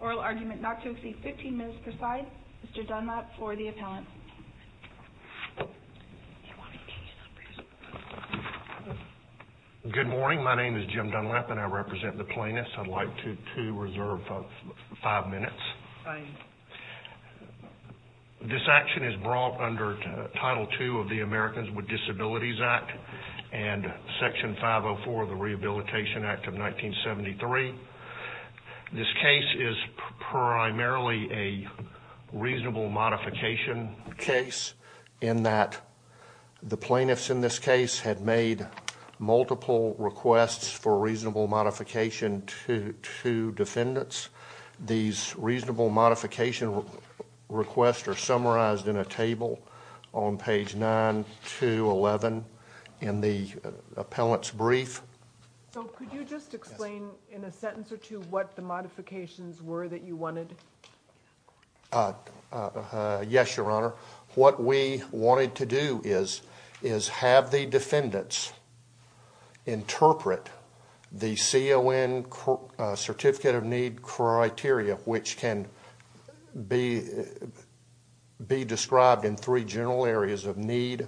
Oral Argument not to exceed 15 minutes per side. Mr. Dunlap for the appellant. Good morning. My name is Jim Dunlap and I represent the plaintiffs. I'd like to reserve five minutes. This action is brought under Title II of the Americans with Disabilities Act and Section 504 of the Rehabilitation Act of 1973. This case is primarily a reasonable modification case in that the plaintiffs in this case had made multiple requests for reasonable modification to defendants. These reasonable modification requests are summarized in a table on page 9 to 11 in the appellant's brief. So could you just explain in a sentence or two what the modifications were that you wanted? Yes, Your Honor. What we wanted to do is have the defendants interpret the CON Certificate of Need criteria, which can be described in three general areas of need,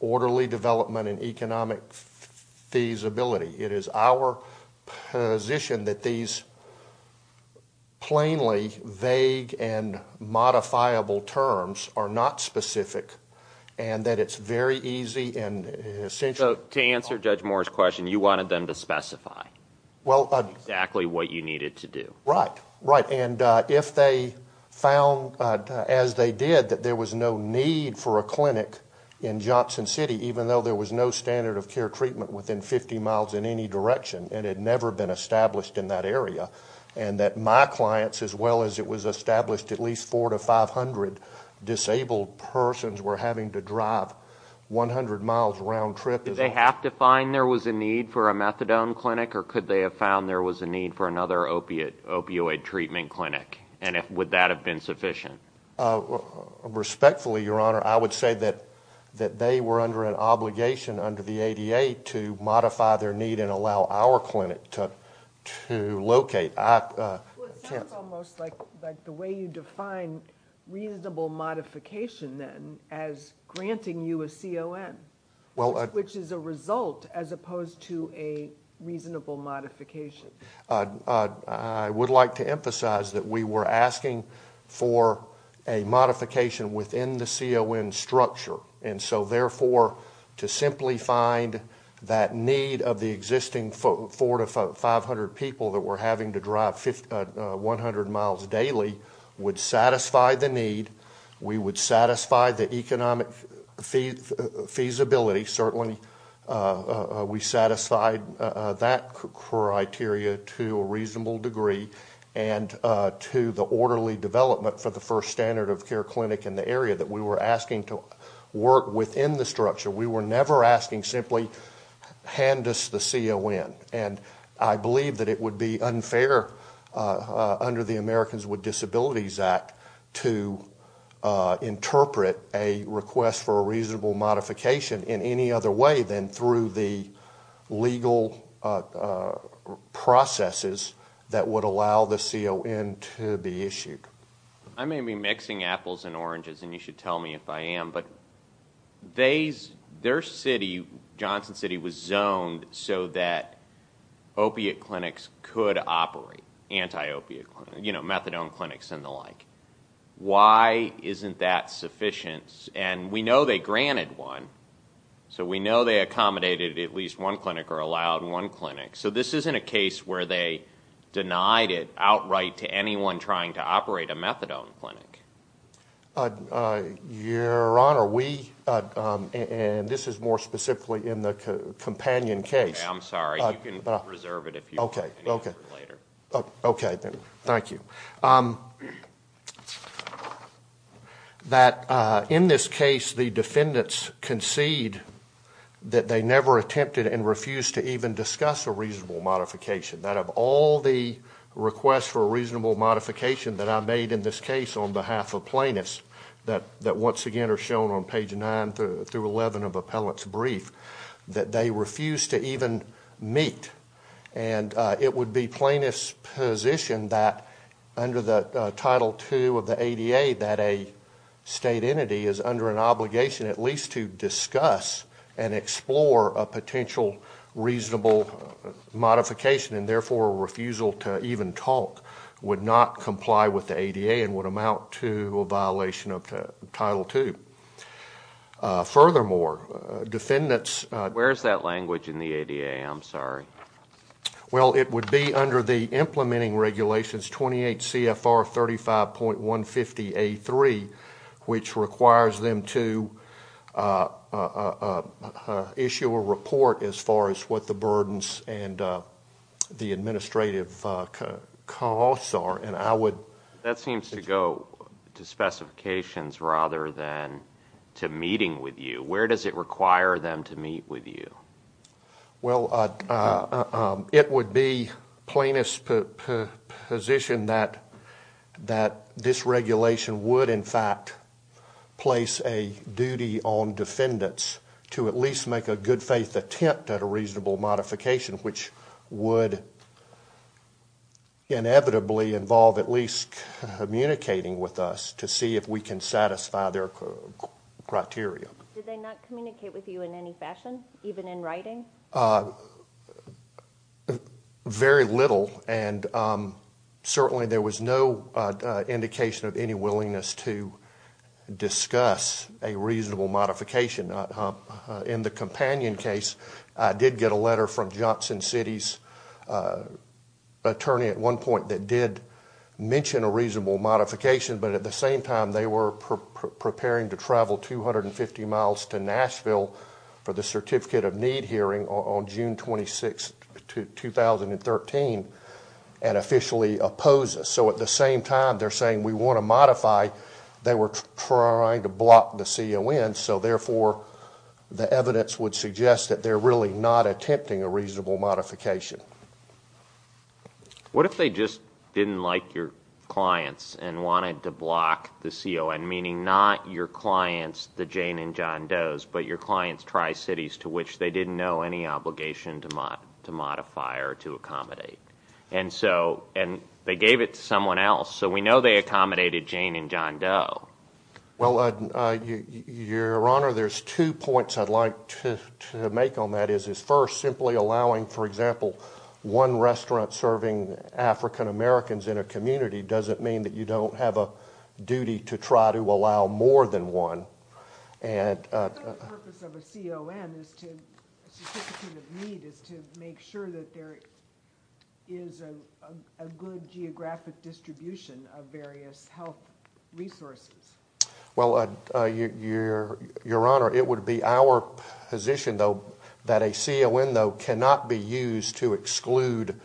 orderly development, and economic feasibility. It is our position that these plainly vague and modifiable terms are not specific and that it's very easy and essential. So to answer Judge Moore's question, you wanted them to specify exactly what you needed to do. Right. And if they found, as they did, that there was no need for a clinic in Johnson City, even though there was no standard of care treatment within 50 miles in any direction, and it had never been established in that area, and that my clients, as well as it was established, at least 400 to 500 disabled persons were having to drive 100 miles round trip. So did they have to find there was a need for a methadone clinic or could they have found there was a need for another opioid treatment clinic? And would that have been sufficient? Respectfully, Your Honor, I would say that they were under an obligation under the ADA to modify their need and allow our clinic to locate. Well, it sounds almost like the way you define reasonable modification, then, as granting you a CON, which is a result as opposed to a reasonable modification. I would like to emphasize that we were asking for a modification within the CON structure. And so, therefore, to simply find that need of the existing 400 to 500 people that were having to drive 100 miles daily would satisfy the need. We would satisfy the economic feasibility. Certainly, we satisfied that criteria to a reasonable degree and to the orderly development for the first standard of care clinic in the area that we were asking to work within the structure. We were never asking simply hand us the CON. And I believe that it would be unfair under the Americans with Disabilities Act to interpret a request for a reasonable modification in any other way than through the legal processes that would allow the CON to be issued. I may be mixing apples and oranges, and you should tell me if I am. But their city, Johnson City, was zoned so that opiate clinics could operate, methadone clinics and the like. Why isn't that sufficient? And we know they granted one. So we know they accommodated at least one clinic or allowed one clinic. So this isn't a case where they denied it outright to anyone trying to operate a methadone clinic. Your Honor, we – and this is more specifically in the companion case. I'm sorry. You can reserve it if you want. Okay. Okay. Later. Okay. Thank you. That in this case the defendants concede that they never attempted and refused to even discuss a reasonable modification. That of all the requests for a reasonable modification that I made in this case on behalf of plaintiffs that once again are shown on page 9 through 11 of appellant's brief, that they refused to even meet. And it would be plaintiff's position that under the Title II of the ADA that a state entity is under an obligation at least to discuss and explore a potential reasonable modification, and therefore a refusal to even talk would not comply with the ADA and would amount to a violation of Title II. Furthermore, defendants – Where is that language in the ADA? I'm sorry. Well, it would be under the implementing regulations 28 CFR 35.150A3, which requires them to issue a report as far as what the burdens and the administrative costs are, and I would – That seems to go to specifications rather than to meeting with you. Where does it require them to meet with you? Well, it would be plaintiff's position that this regulation would in fact place a duty on defendants to at least make a good faith attempt at a reasonable modification, which would inevitably involve at least communicating with us to see if we can satisfy their criteria. Did they not communicate with you in any fashion, even in writing? Very little, and certainly there was no indication of any willingness to discuss a reasonable modification. In the Companion case, I did get a letter from Johnson City's attorney at one point that did mention a reasonable modification, but at the same time they were preparing to travel 250 miles to Nashville for the Certificate of Need hearing on June 26, 2013, and officially opposed us. So at the same time they're saying we want to modify, they were trying to block the CON, so therefore the evidence would suggest that they're really not attempting a reasonable modification. What if they just didn't like your clients and wanted to block the CON, meaning not your clients, the Jane and John Does, but your clients Tri-Cities to which they didn't know any obligation to modify or to accommodate? And they gave it to someone else, so we know they accommodated Jane and John Doe. Well, Your Honor, there's two points I'd like to make on that. First, simply allowing, for example, one restaurant serving African Americans in a community doesn't mean that you don't have a duty to try to allow more than one. The purpose of a CON, a Certificate of Need, is to make sure that there is a good geographic distribution of various health resources. Well, Your Honor, it would be our position, though, that a CON, though, cannot be used to exclude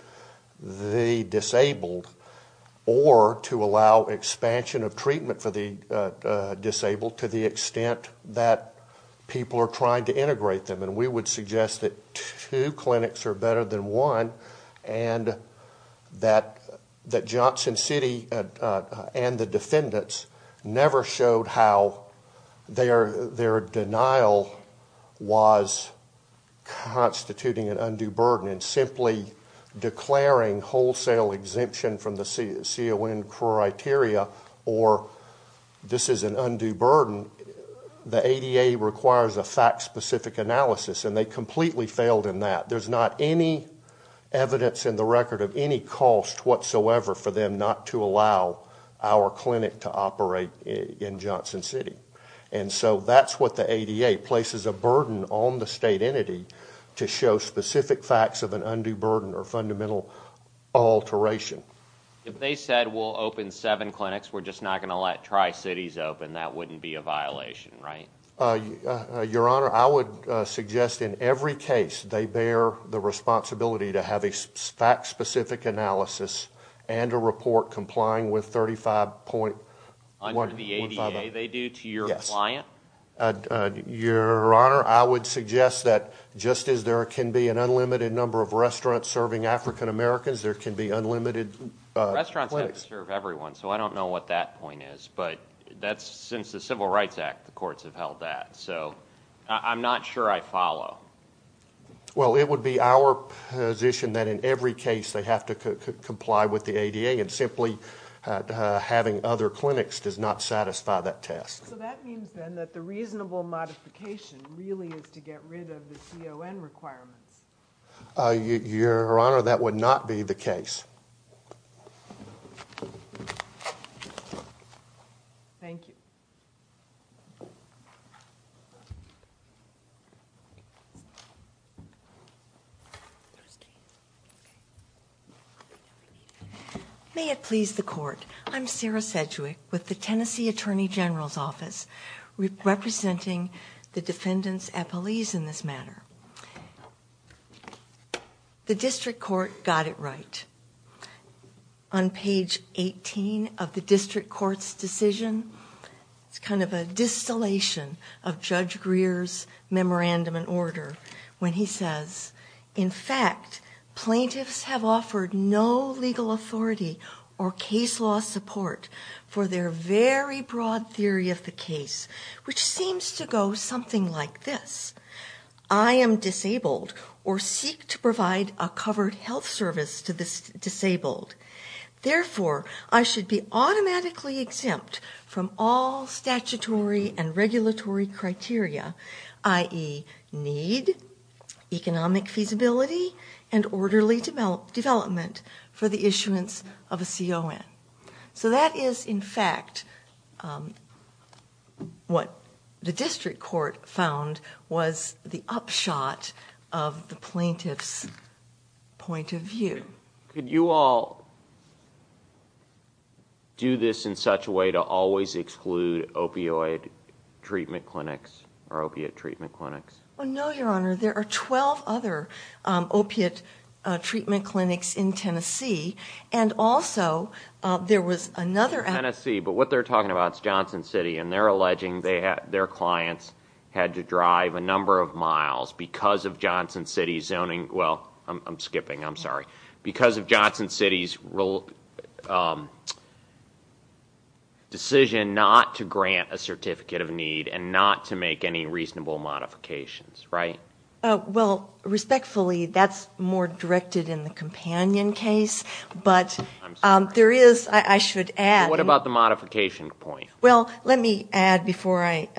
the disabled or to allow expansion of treatment for the disabled to the extent that people are trying to integrate them. And we would suggest that two clinics are better than one and that Johnson City and the defendants never showed how their denial was constituting an undue burden. And simply declaring wholesale exemption from the CON criteria or this is an undue burden, the ADA requires a fact-specific analysis, and they completely failed in that. There's not any evidence in the record of any cost whatsoever for them not to allow our clinic to operate in Johnson City. And so that's what the ADA places a burden on the state entity to show specific facts of an undue burden or fundamental alteration. If they said we'll open seven clinics, we're just not going to let Tri-Cities open, that wouldn't be a violation, right? Your Honor, I would suggest in every case they bear the responsibility to have a fact-specific analysis and a report complying with 35.1. Your Honor, I would suggest that just as there can be an unlimited number of restaurants serving African-Americans, there can be unlimited clinics. Restaurants have to serve everyone, so I don't know what that point is, but since the Civil Rights Act, the courts have held that. So I'm not sure I follow. Well, it would be our position that in every case they have to comply with the ADA, and simply having other clinics does not satisfy that test. So that means then that the reasonable modification really is to get rid of the CON requirements. Your Honor, that would not be the case. Thank you. May it please the court. I'm Sarah Sedgwick with the Tennessee Attorney General's Office, representing the defendants' appellees in this matter. The district court got it right. On page 18 of the district court's decision, it's kind of a distillation of Judge Greer's memorandum and order when he says, In fact, plaintiffs have offered no legal authority or case law support for their very broad theory of the case, which seems to go something like this. I am disabled or seek to provide a covered health service to the disabled. Therefore, I should be automatically exempt from all statutory and regulatory criteria, i.e. need, economic feasibility, and orderly development for the issuance of a CON. So that is, in fact, what the district court found was the upshot of the plaintiff's point of view. Could you all do this in such a way to always exclude opioid treatment clinics or opiate treatment clinics? No, Your Honor. There are 12 other opiate treatment clinics in Tennessee. And also, there was another- In Tennessee, but what they're talking about is Johnson City, and they're alleging their clients had to drive a number of miles because of Johnson City's zoning. Because of Johnson City's decision not to grant a certificate of need and not to make any reasonable modifications, right? Well, respectfully, that's more directed in the companion case, but there is, I should add- What about the modification point? Well, let me add before I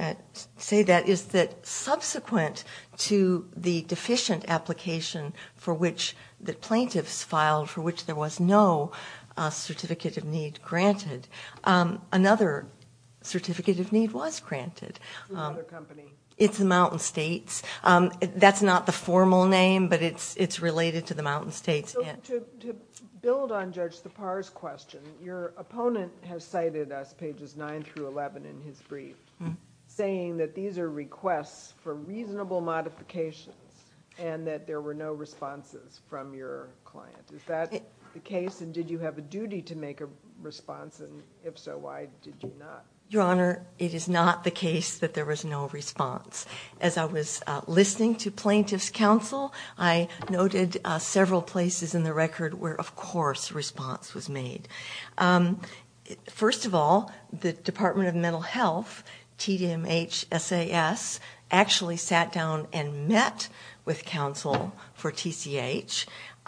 say that is that subsequent to the deficient application for which the plaintiffs filed, for which there was no certificate of need granted, another certificate of need was granted. It's another company. It's the Mountain States. That's not the formal name, but it's related to the Mountain States. To build on Judge Tappar's question, your opponent has cited us, pages 9 through 11 in his brief, saying that these are requests for reasonable modifications and that there were no responses from your client. Is that the case, and did you have a duty to make a response? And if so, why did you not? Your Honor, it is not the case that there was no response. As I was listening to plaintiff's counsel, I noted several places in the record where, of course, a response was made. First of all, the Department of Mental Health, TDMHSAS, actually sat down and met with counsel for TCH,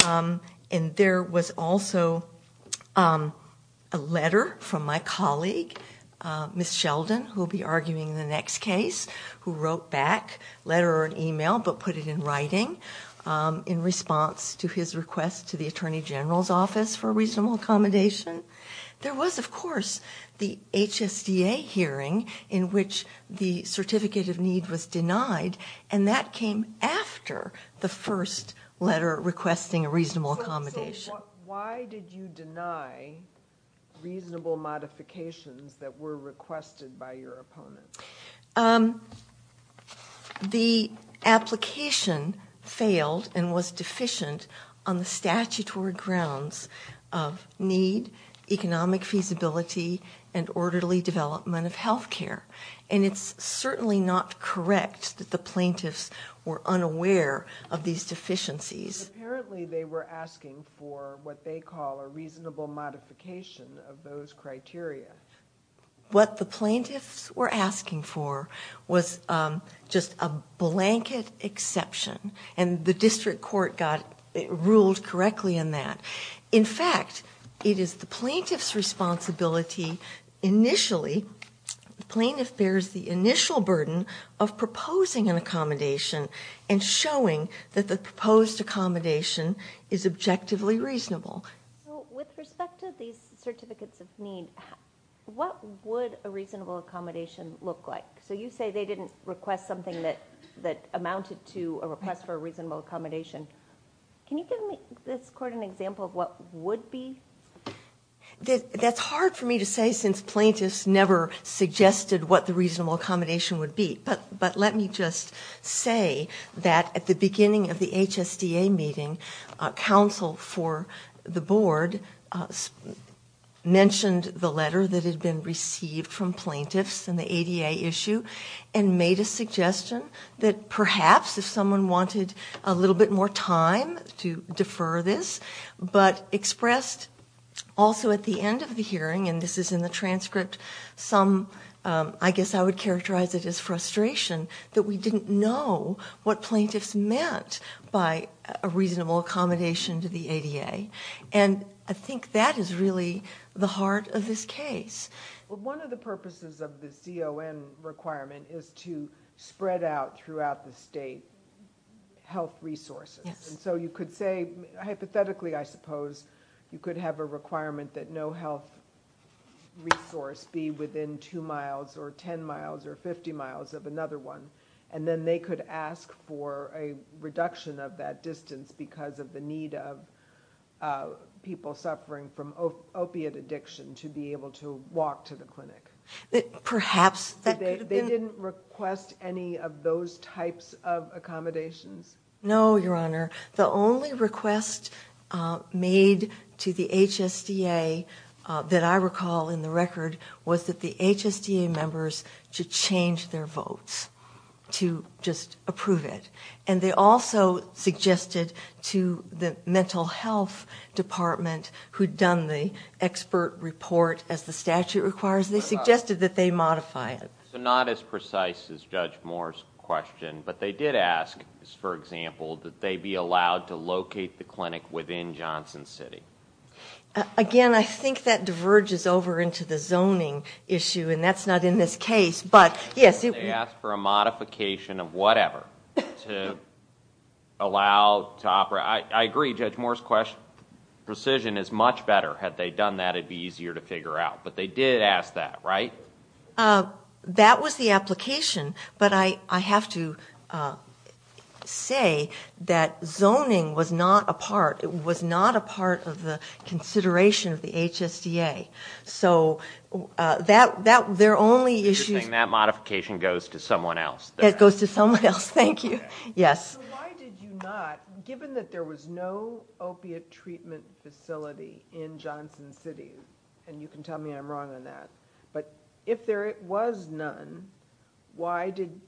and there was also a letter from my colleague, Ms. Sheldon, who will be arguing the next case, who wrote back a letter or an email but put it in writing in response to his request to the Attorney General's Office for reasonable accommodation. There was, of course, the HSDA hearing in which the certificate of need was denied, and that came after the first letter requesting a reasonable accommodation. So why did you deny reasonable modifications that were requested by your opponent? The application failed and was deficient on the statutory grounds of need, economic feasibility, and orderly development of health care. And it's certainly not correct that the plaintiffs were unaware of these deficiencies. Apparently, they were asking for what they call a reasonable modification of those criteria. What the plaintiffs were asking for was just a blanket exception, and the district court ruled correctly in that. In fact, it is the plaintiff's responsibility initially, the plaintiff bears the initial burden of proposing an accommodation and showing that the proposed accommodation is objectively reasonable. With respect to these certificates of need, what would a reasonable accommodation look like? So you say they didn't request something that amounted to a request for a reasonable accommodation. Can you give this court an example of what would be? That's hard for me to say since plaintiffs never suggested what the reasonable accommodation would be. But let me just say that at the beginning of the HSDA meeting, counsel for the board mentioned the letter that had been received from plaintiffs in the ADA issue and made a suggestion that perhaps if someone wanted a little bit more time to defer this, but expressed also at the end of the hearing, and this is in the transcript, some, I guess I would characterize it as frustration that we didn't know what plaintiffs meant by a reasonable accommodation to the ADA. And I think that is really the heart of this case. One of the purposes of the CON requirement is to spread out throughout the state health resources. And so you could say, hypothetically, I suppose, you could have a requirement that no health resource be within 2 miles or 10 miles or 50 miles of another one. And then they could ask for a reduction of that distance because of the need of people suffering from opiate addiction to be able to walk to the clinic. Perhaps that could have been. They didn't request any of those types of accommodations? No, Your Honor. The only request made to the HSDA that I recall in the record was that the HSDA members should change their votes to just approve it. And they also suggested to the mental health department who had done the expert report as the statute requires, they suggested that they modify it. So not as precise as Judge Moore's question. But they did ask, for example, that they be allowed to locate the clinic within Johnson City. Again, I think that diverges over into the zoning issue, and that's not in this case. They asked for a modification of whatever to allow to operate. I agree. Judge Moore's precision is much better. Had they done that, it would be easier to figure out. But they did ask that, right? That was the application. But I have to say that zoning was not a part of the consideration of the HSDA. So there are only issues. That modification goes to someone else. It goes to someone else. Thank you. Yes. So why did you not, given that there was no opiate treatment facility in Johnson City, and you can tell me I'm wrong on that, but if there was none, why did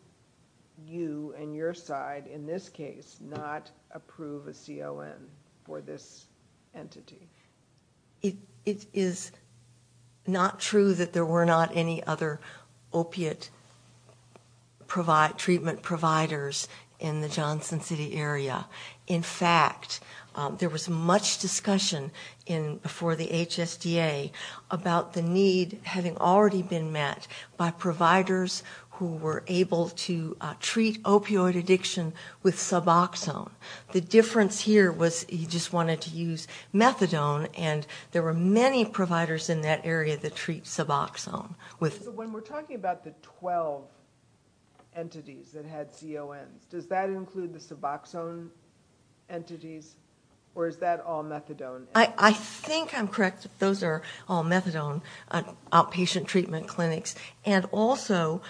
you and your side in this case not approve a CON for this entity? It is not true that there were not any other opiate treatment providers in the Johnson City area. In fact, there was much discussion before the HSDA about the need, having already been met by providers who were able to treat opioid addiction with Suboxone. The difference here was you just wanted to use methadone, and there were many providers in that area that treat Suboxone. So when we're talking about the 12 entities that had CONs, does that include the Suboxone entities, or is that all methadone? I think I'm correct. Those are all methadone outpatient treatment clinics. And also,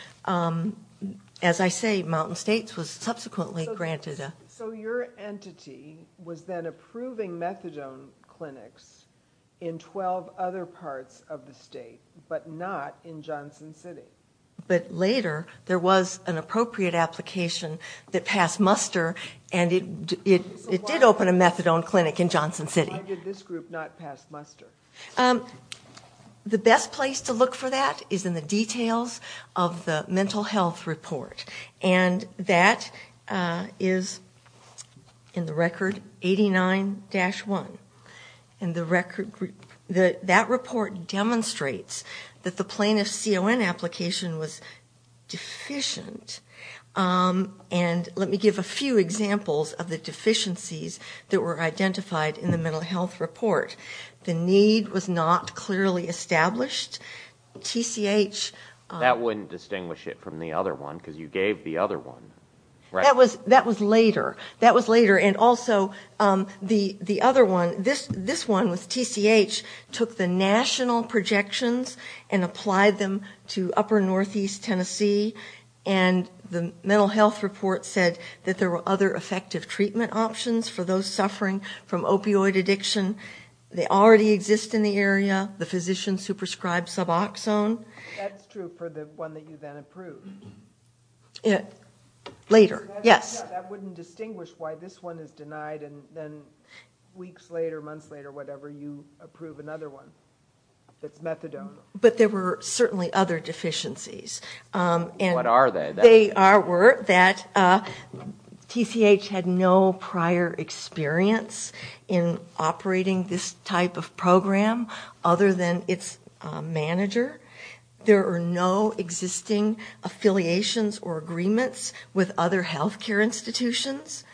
as I say, Mountain States was subsequently granted a... So your entity was then approving methadone clinics in 12 other parts of the state, but not in Johnson City. But later, there was an appropriate application that passed muster, and it did open a methadone clinic in Johnson City. So why did this group not pass muster? The best place to look for that is in the details of the mental health report, and that is in the record 89-1. And that report demonstrates that the plaintiff's CON application was deficient. And let me give a few examples of the deficiencies that were identified in the mental health report. The need was not clearly established. TCH... That was later. That was later, and also the other one, this one with TCH, took the national projections and applied them to upper northeast Tennessee, and the mental health report said that there were other effective treatment options for those suffering from opioid addiction. They already exist in the area, the physicians who prescribe Suboxone. That's true for the one that you then approved. Later, yes. That wouldn't distinguish why this one is denied, and then weeks later, months later, whatever, you approve another one that's methadone. But there were certainly other deficiencies. What are they? They were that TCH had no prior experience in operating this type of program other than its manager. There are no existing affiliations or agreements with other health care institutions.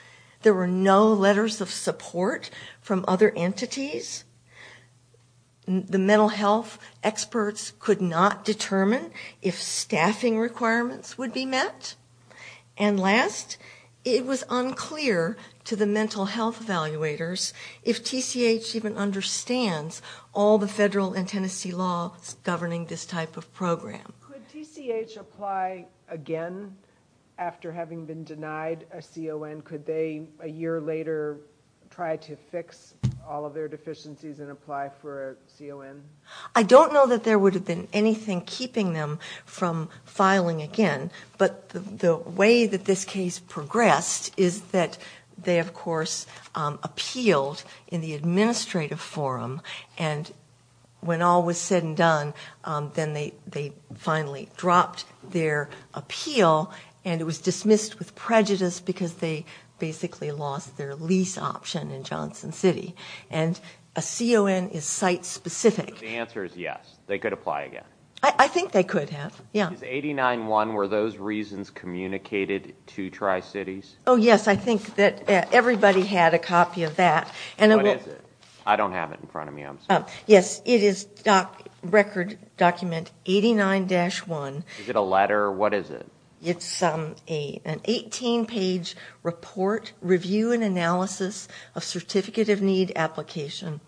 There were no letters of support from other entities. The mental health experts could not determine if staffing requirements would be met. And last, it was unclear to the mental health evaluators if TCH even understands all the federal and Tennessee laws governing this type of program. Could TCH apply again after having been denied a CON? Could they, a year later, try to fix all of their deficiencies and apply for a CON? I don't know that there would have been anything keeping them from filing again, but the way that this case progressed is that they, of course, appealed in the administrative forum, and when all was said and done, then they finally dropped their appeal, and it was dismissed with prejudice because they basically lost their lease option in Johnson City. And a CON is site-specific. So the answer is yes, they could apply again. I think they could have, yeah. Is 89-1, were those reasons communicated to Tri-Cities? Oh, yes, I think that everybody had a copy of that. What is it? I don't have it in front of me, I'm sorry. Yes, it is record document 89-1. Is it a letter? What is it? It's an 18-page report, review and analysis of certificate of need application.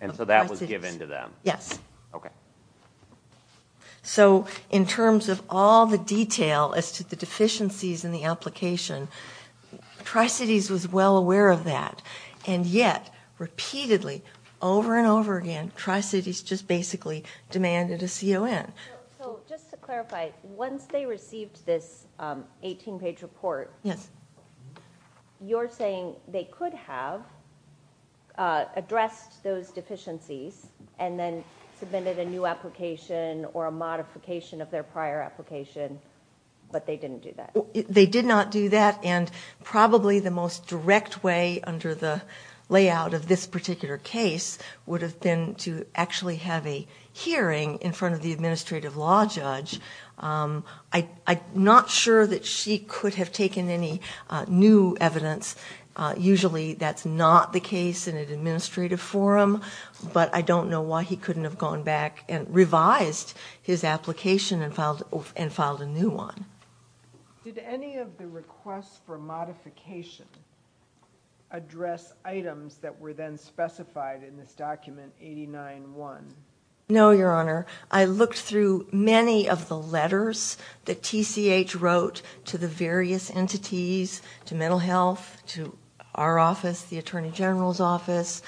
And so that was given to them? Yes. Okay. So in terms of all the detail as to the deficiencies in the application, Tri-Cities was well aware of that, and yet, repeatedly, over and over again, Tri-Cities just basically demanded a CON. So just to clarify, once they received this 18-page report, you're saying they could have addressed those deficiencies and then submitted a new application or a modification of their prior application, but they didn't do that? They did not do that, and probably the most direct way under the layout of this particular case would have been to actually have a hearing in front of the administrative law judge. I'm not sure that she could have taken any new evidence. Usually that's not the case in an administrative forum, but I don't know why he couldn't have gone back and revised his application and filed a new one. Did any of the requests for modification address items that were then specified in this document 89-1? No, Your Honor. I looked through many of the letters that TCH wrote to the various entities, to mental health, to our office, the Attorney General's office,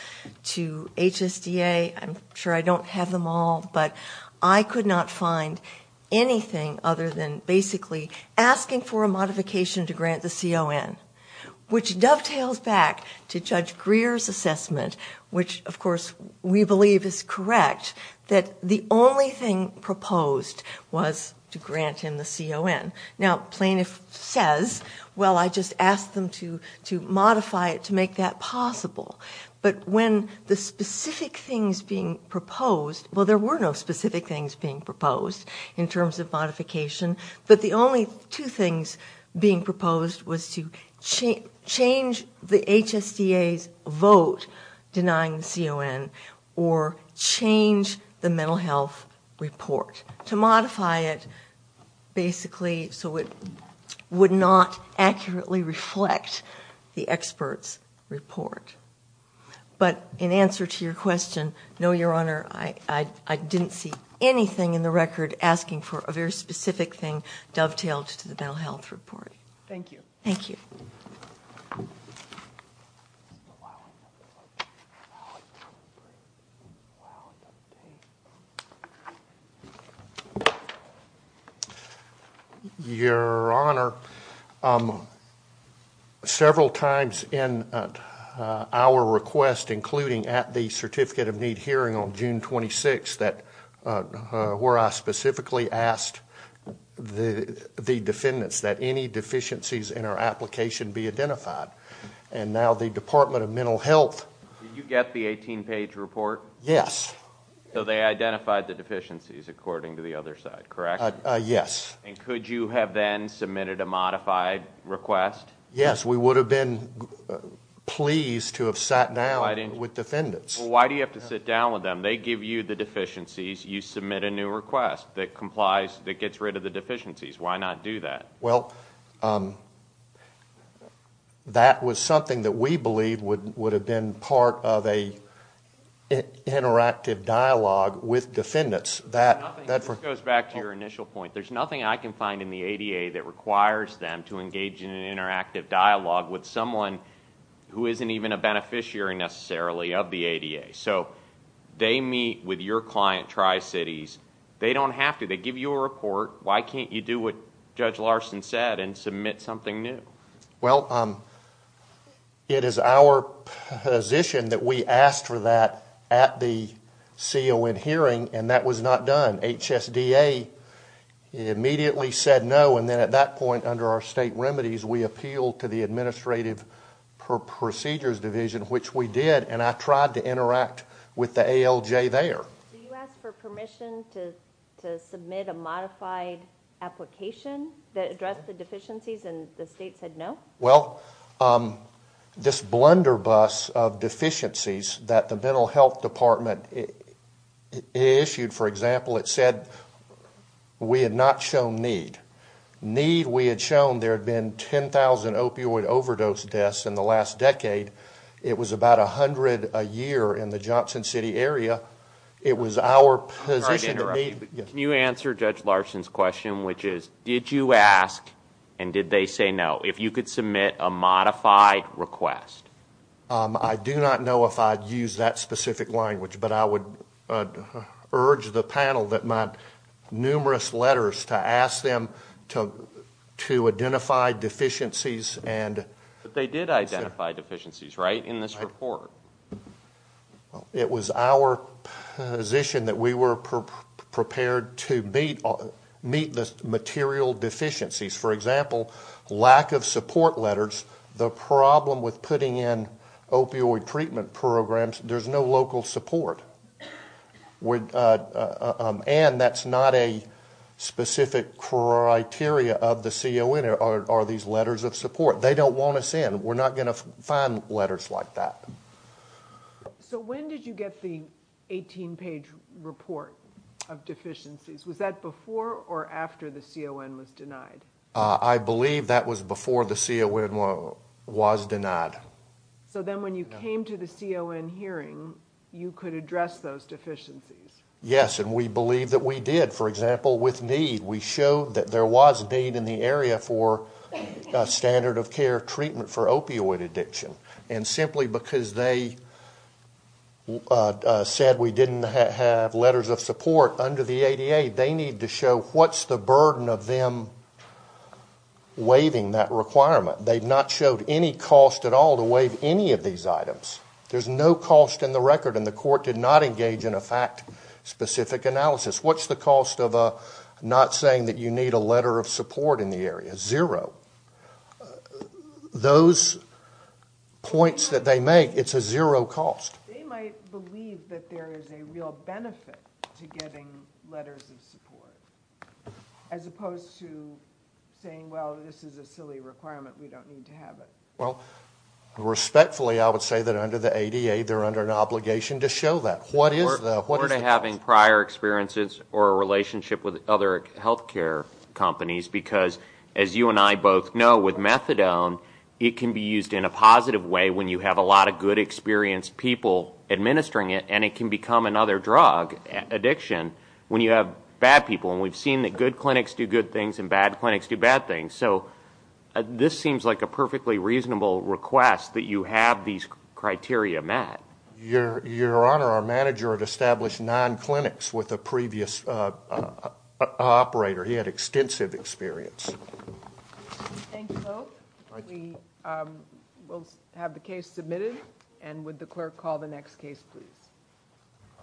to HSDA. I'm sure I don't have them all, but I could not find anything other than basically asking for a modification to grant the CON, which dovetails back to Judge Greer's assessment, which, of course, we believe is correct, that the only thing proposed was to grant him the CON. Now, plaintiff says, well, I just asked them to modify it to make that possible. But when the specific things being proposed, well, there were no specific things being proposed in terms of modification, but the only two things being proposed was to change the HSDA's vote denying the CON or change the mental health report, to modify it basically so it would not accurately reflect the expert's report. But in answer to your question, no, Your Honor, I didn't see anything in the record asking for a very specific thing dovetailed to the mental health report. Thank you. Thank you. Your Honor, several times in our request, including at the Certificate of Need hearing on June 26, where I specifically asked the defendants that any deficiencies in our application be identified. And now the Department of Mental Health. Did you get the 18-page report? Yes. So they identified the deficiencies according to the other side, correct? Yes. And could you have then submitted a modified request? Yes. We would have been pleased to have sat down with defendants. Well, why do you have to sit down with them? They give you the deficiencies. You submit a new request that complies, that gets rid of the deficiencies. Why not do that? Well, that was something that we believe would have been part of an interactive dialogue with defendants. This goes back to your initial point. There's nothing I can find in the ADA that requires them to engage in an interactive dialogue with someone who isn't even a beneficiary necessarily of the ADA. So they meet with your client, Tri-Cities. They don't have to. They give you a report. Why can't you do what Judge Larson said and submit something new? Well, it is our position that we asked for that at the CON hearing, and that was not done. HSDA immediately said no, and then at that point under our state remedies, we appealed to the Administrative Procedures Division, which we did. And I tried to interact with the ALJ there. Do you ask for permission to submit a modified application that addressed the deficiencies, and the state said no? Well, this blunder bus of deficiencies that the Mental Health Department issued, for example, it said we had not shown need. Need we had shown there had been 10,000 opioid overdose deaths in the last decade. It was about 100 a year in the Johnson City area. It was our position to meet. Can you answer Judge Larson's question, which is, did you ask, and did they say no, if you could submit a modified request? I do not know if I'd use that specific language, but I would urge the panel that my numerous letters to ask them to identify deficiencies and But they did identify deficiencies, right, in this report? It was our position that we were prepared to meet the material deficiencies. For example, lack of support letters, the problem with putting in opioid treatment programs, there's no local support. And that's not a specific criteria of the CON, are these letters of support. They don't want us in. We're not going to find letters like that. So when did you get the 18-page report of deficiencies? Was that before or after the CON was denied? I believe that was before the CON was denied. So then when you came to the CON hearing, you could address those deficiencies? Yes, and we believe that we did. For example, with need, we showed that there was need in the area for standard of care treatment for opioid addiction. And simply because they said we didn't have letters of support under the ADA, they need to show what's the burden of them waiving that requirement. They've not showed any cost at all to waive any of these items. There's no cost in the record, and the court did not engage in a fact-specific analysis. What's the cost of not saying that you need a letter of support in the area? Zero. Those points that they make, it's a zero cost. They might believe that there is a real benefit to getting letters of support, as opposed to saying, well, this is a silly requirement, we don't need to have it. Well, respectfully, I would say that under the ADA, they're under an obligation to show that. What is the cost? Prior experiences or a relationship with other health care companies, because as you and I both know, with methadone, it can be used in a positive way when you have a lot of good, experienced people administering it, and it can become another drug, addiction, when you have bad people. And we've seen that good clinics do good things and bad clinics do bad things. So this seems like a perfectly reasonable request that you have these criteria met. Your Honor, our manager had established nine clinics with a previous operator. He had extensive experience. Thank you, Lope. We will have the case submitted, and would the clerk call the next case, please?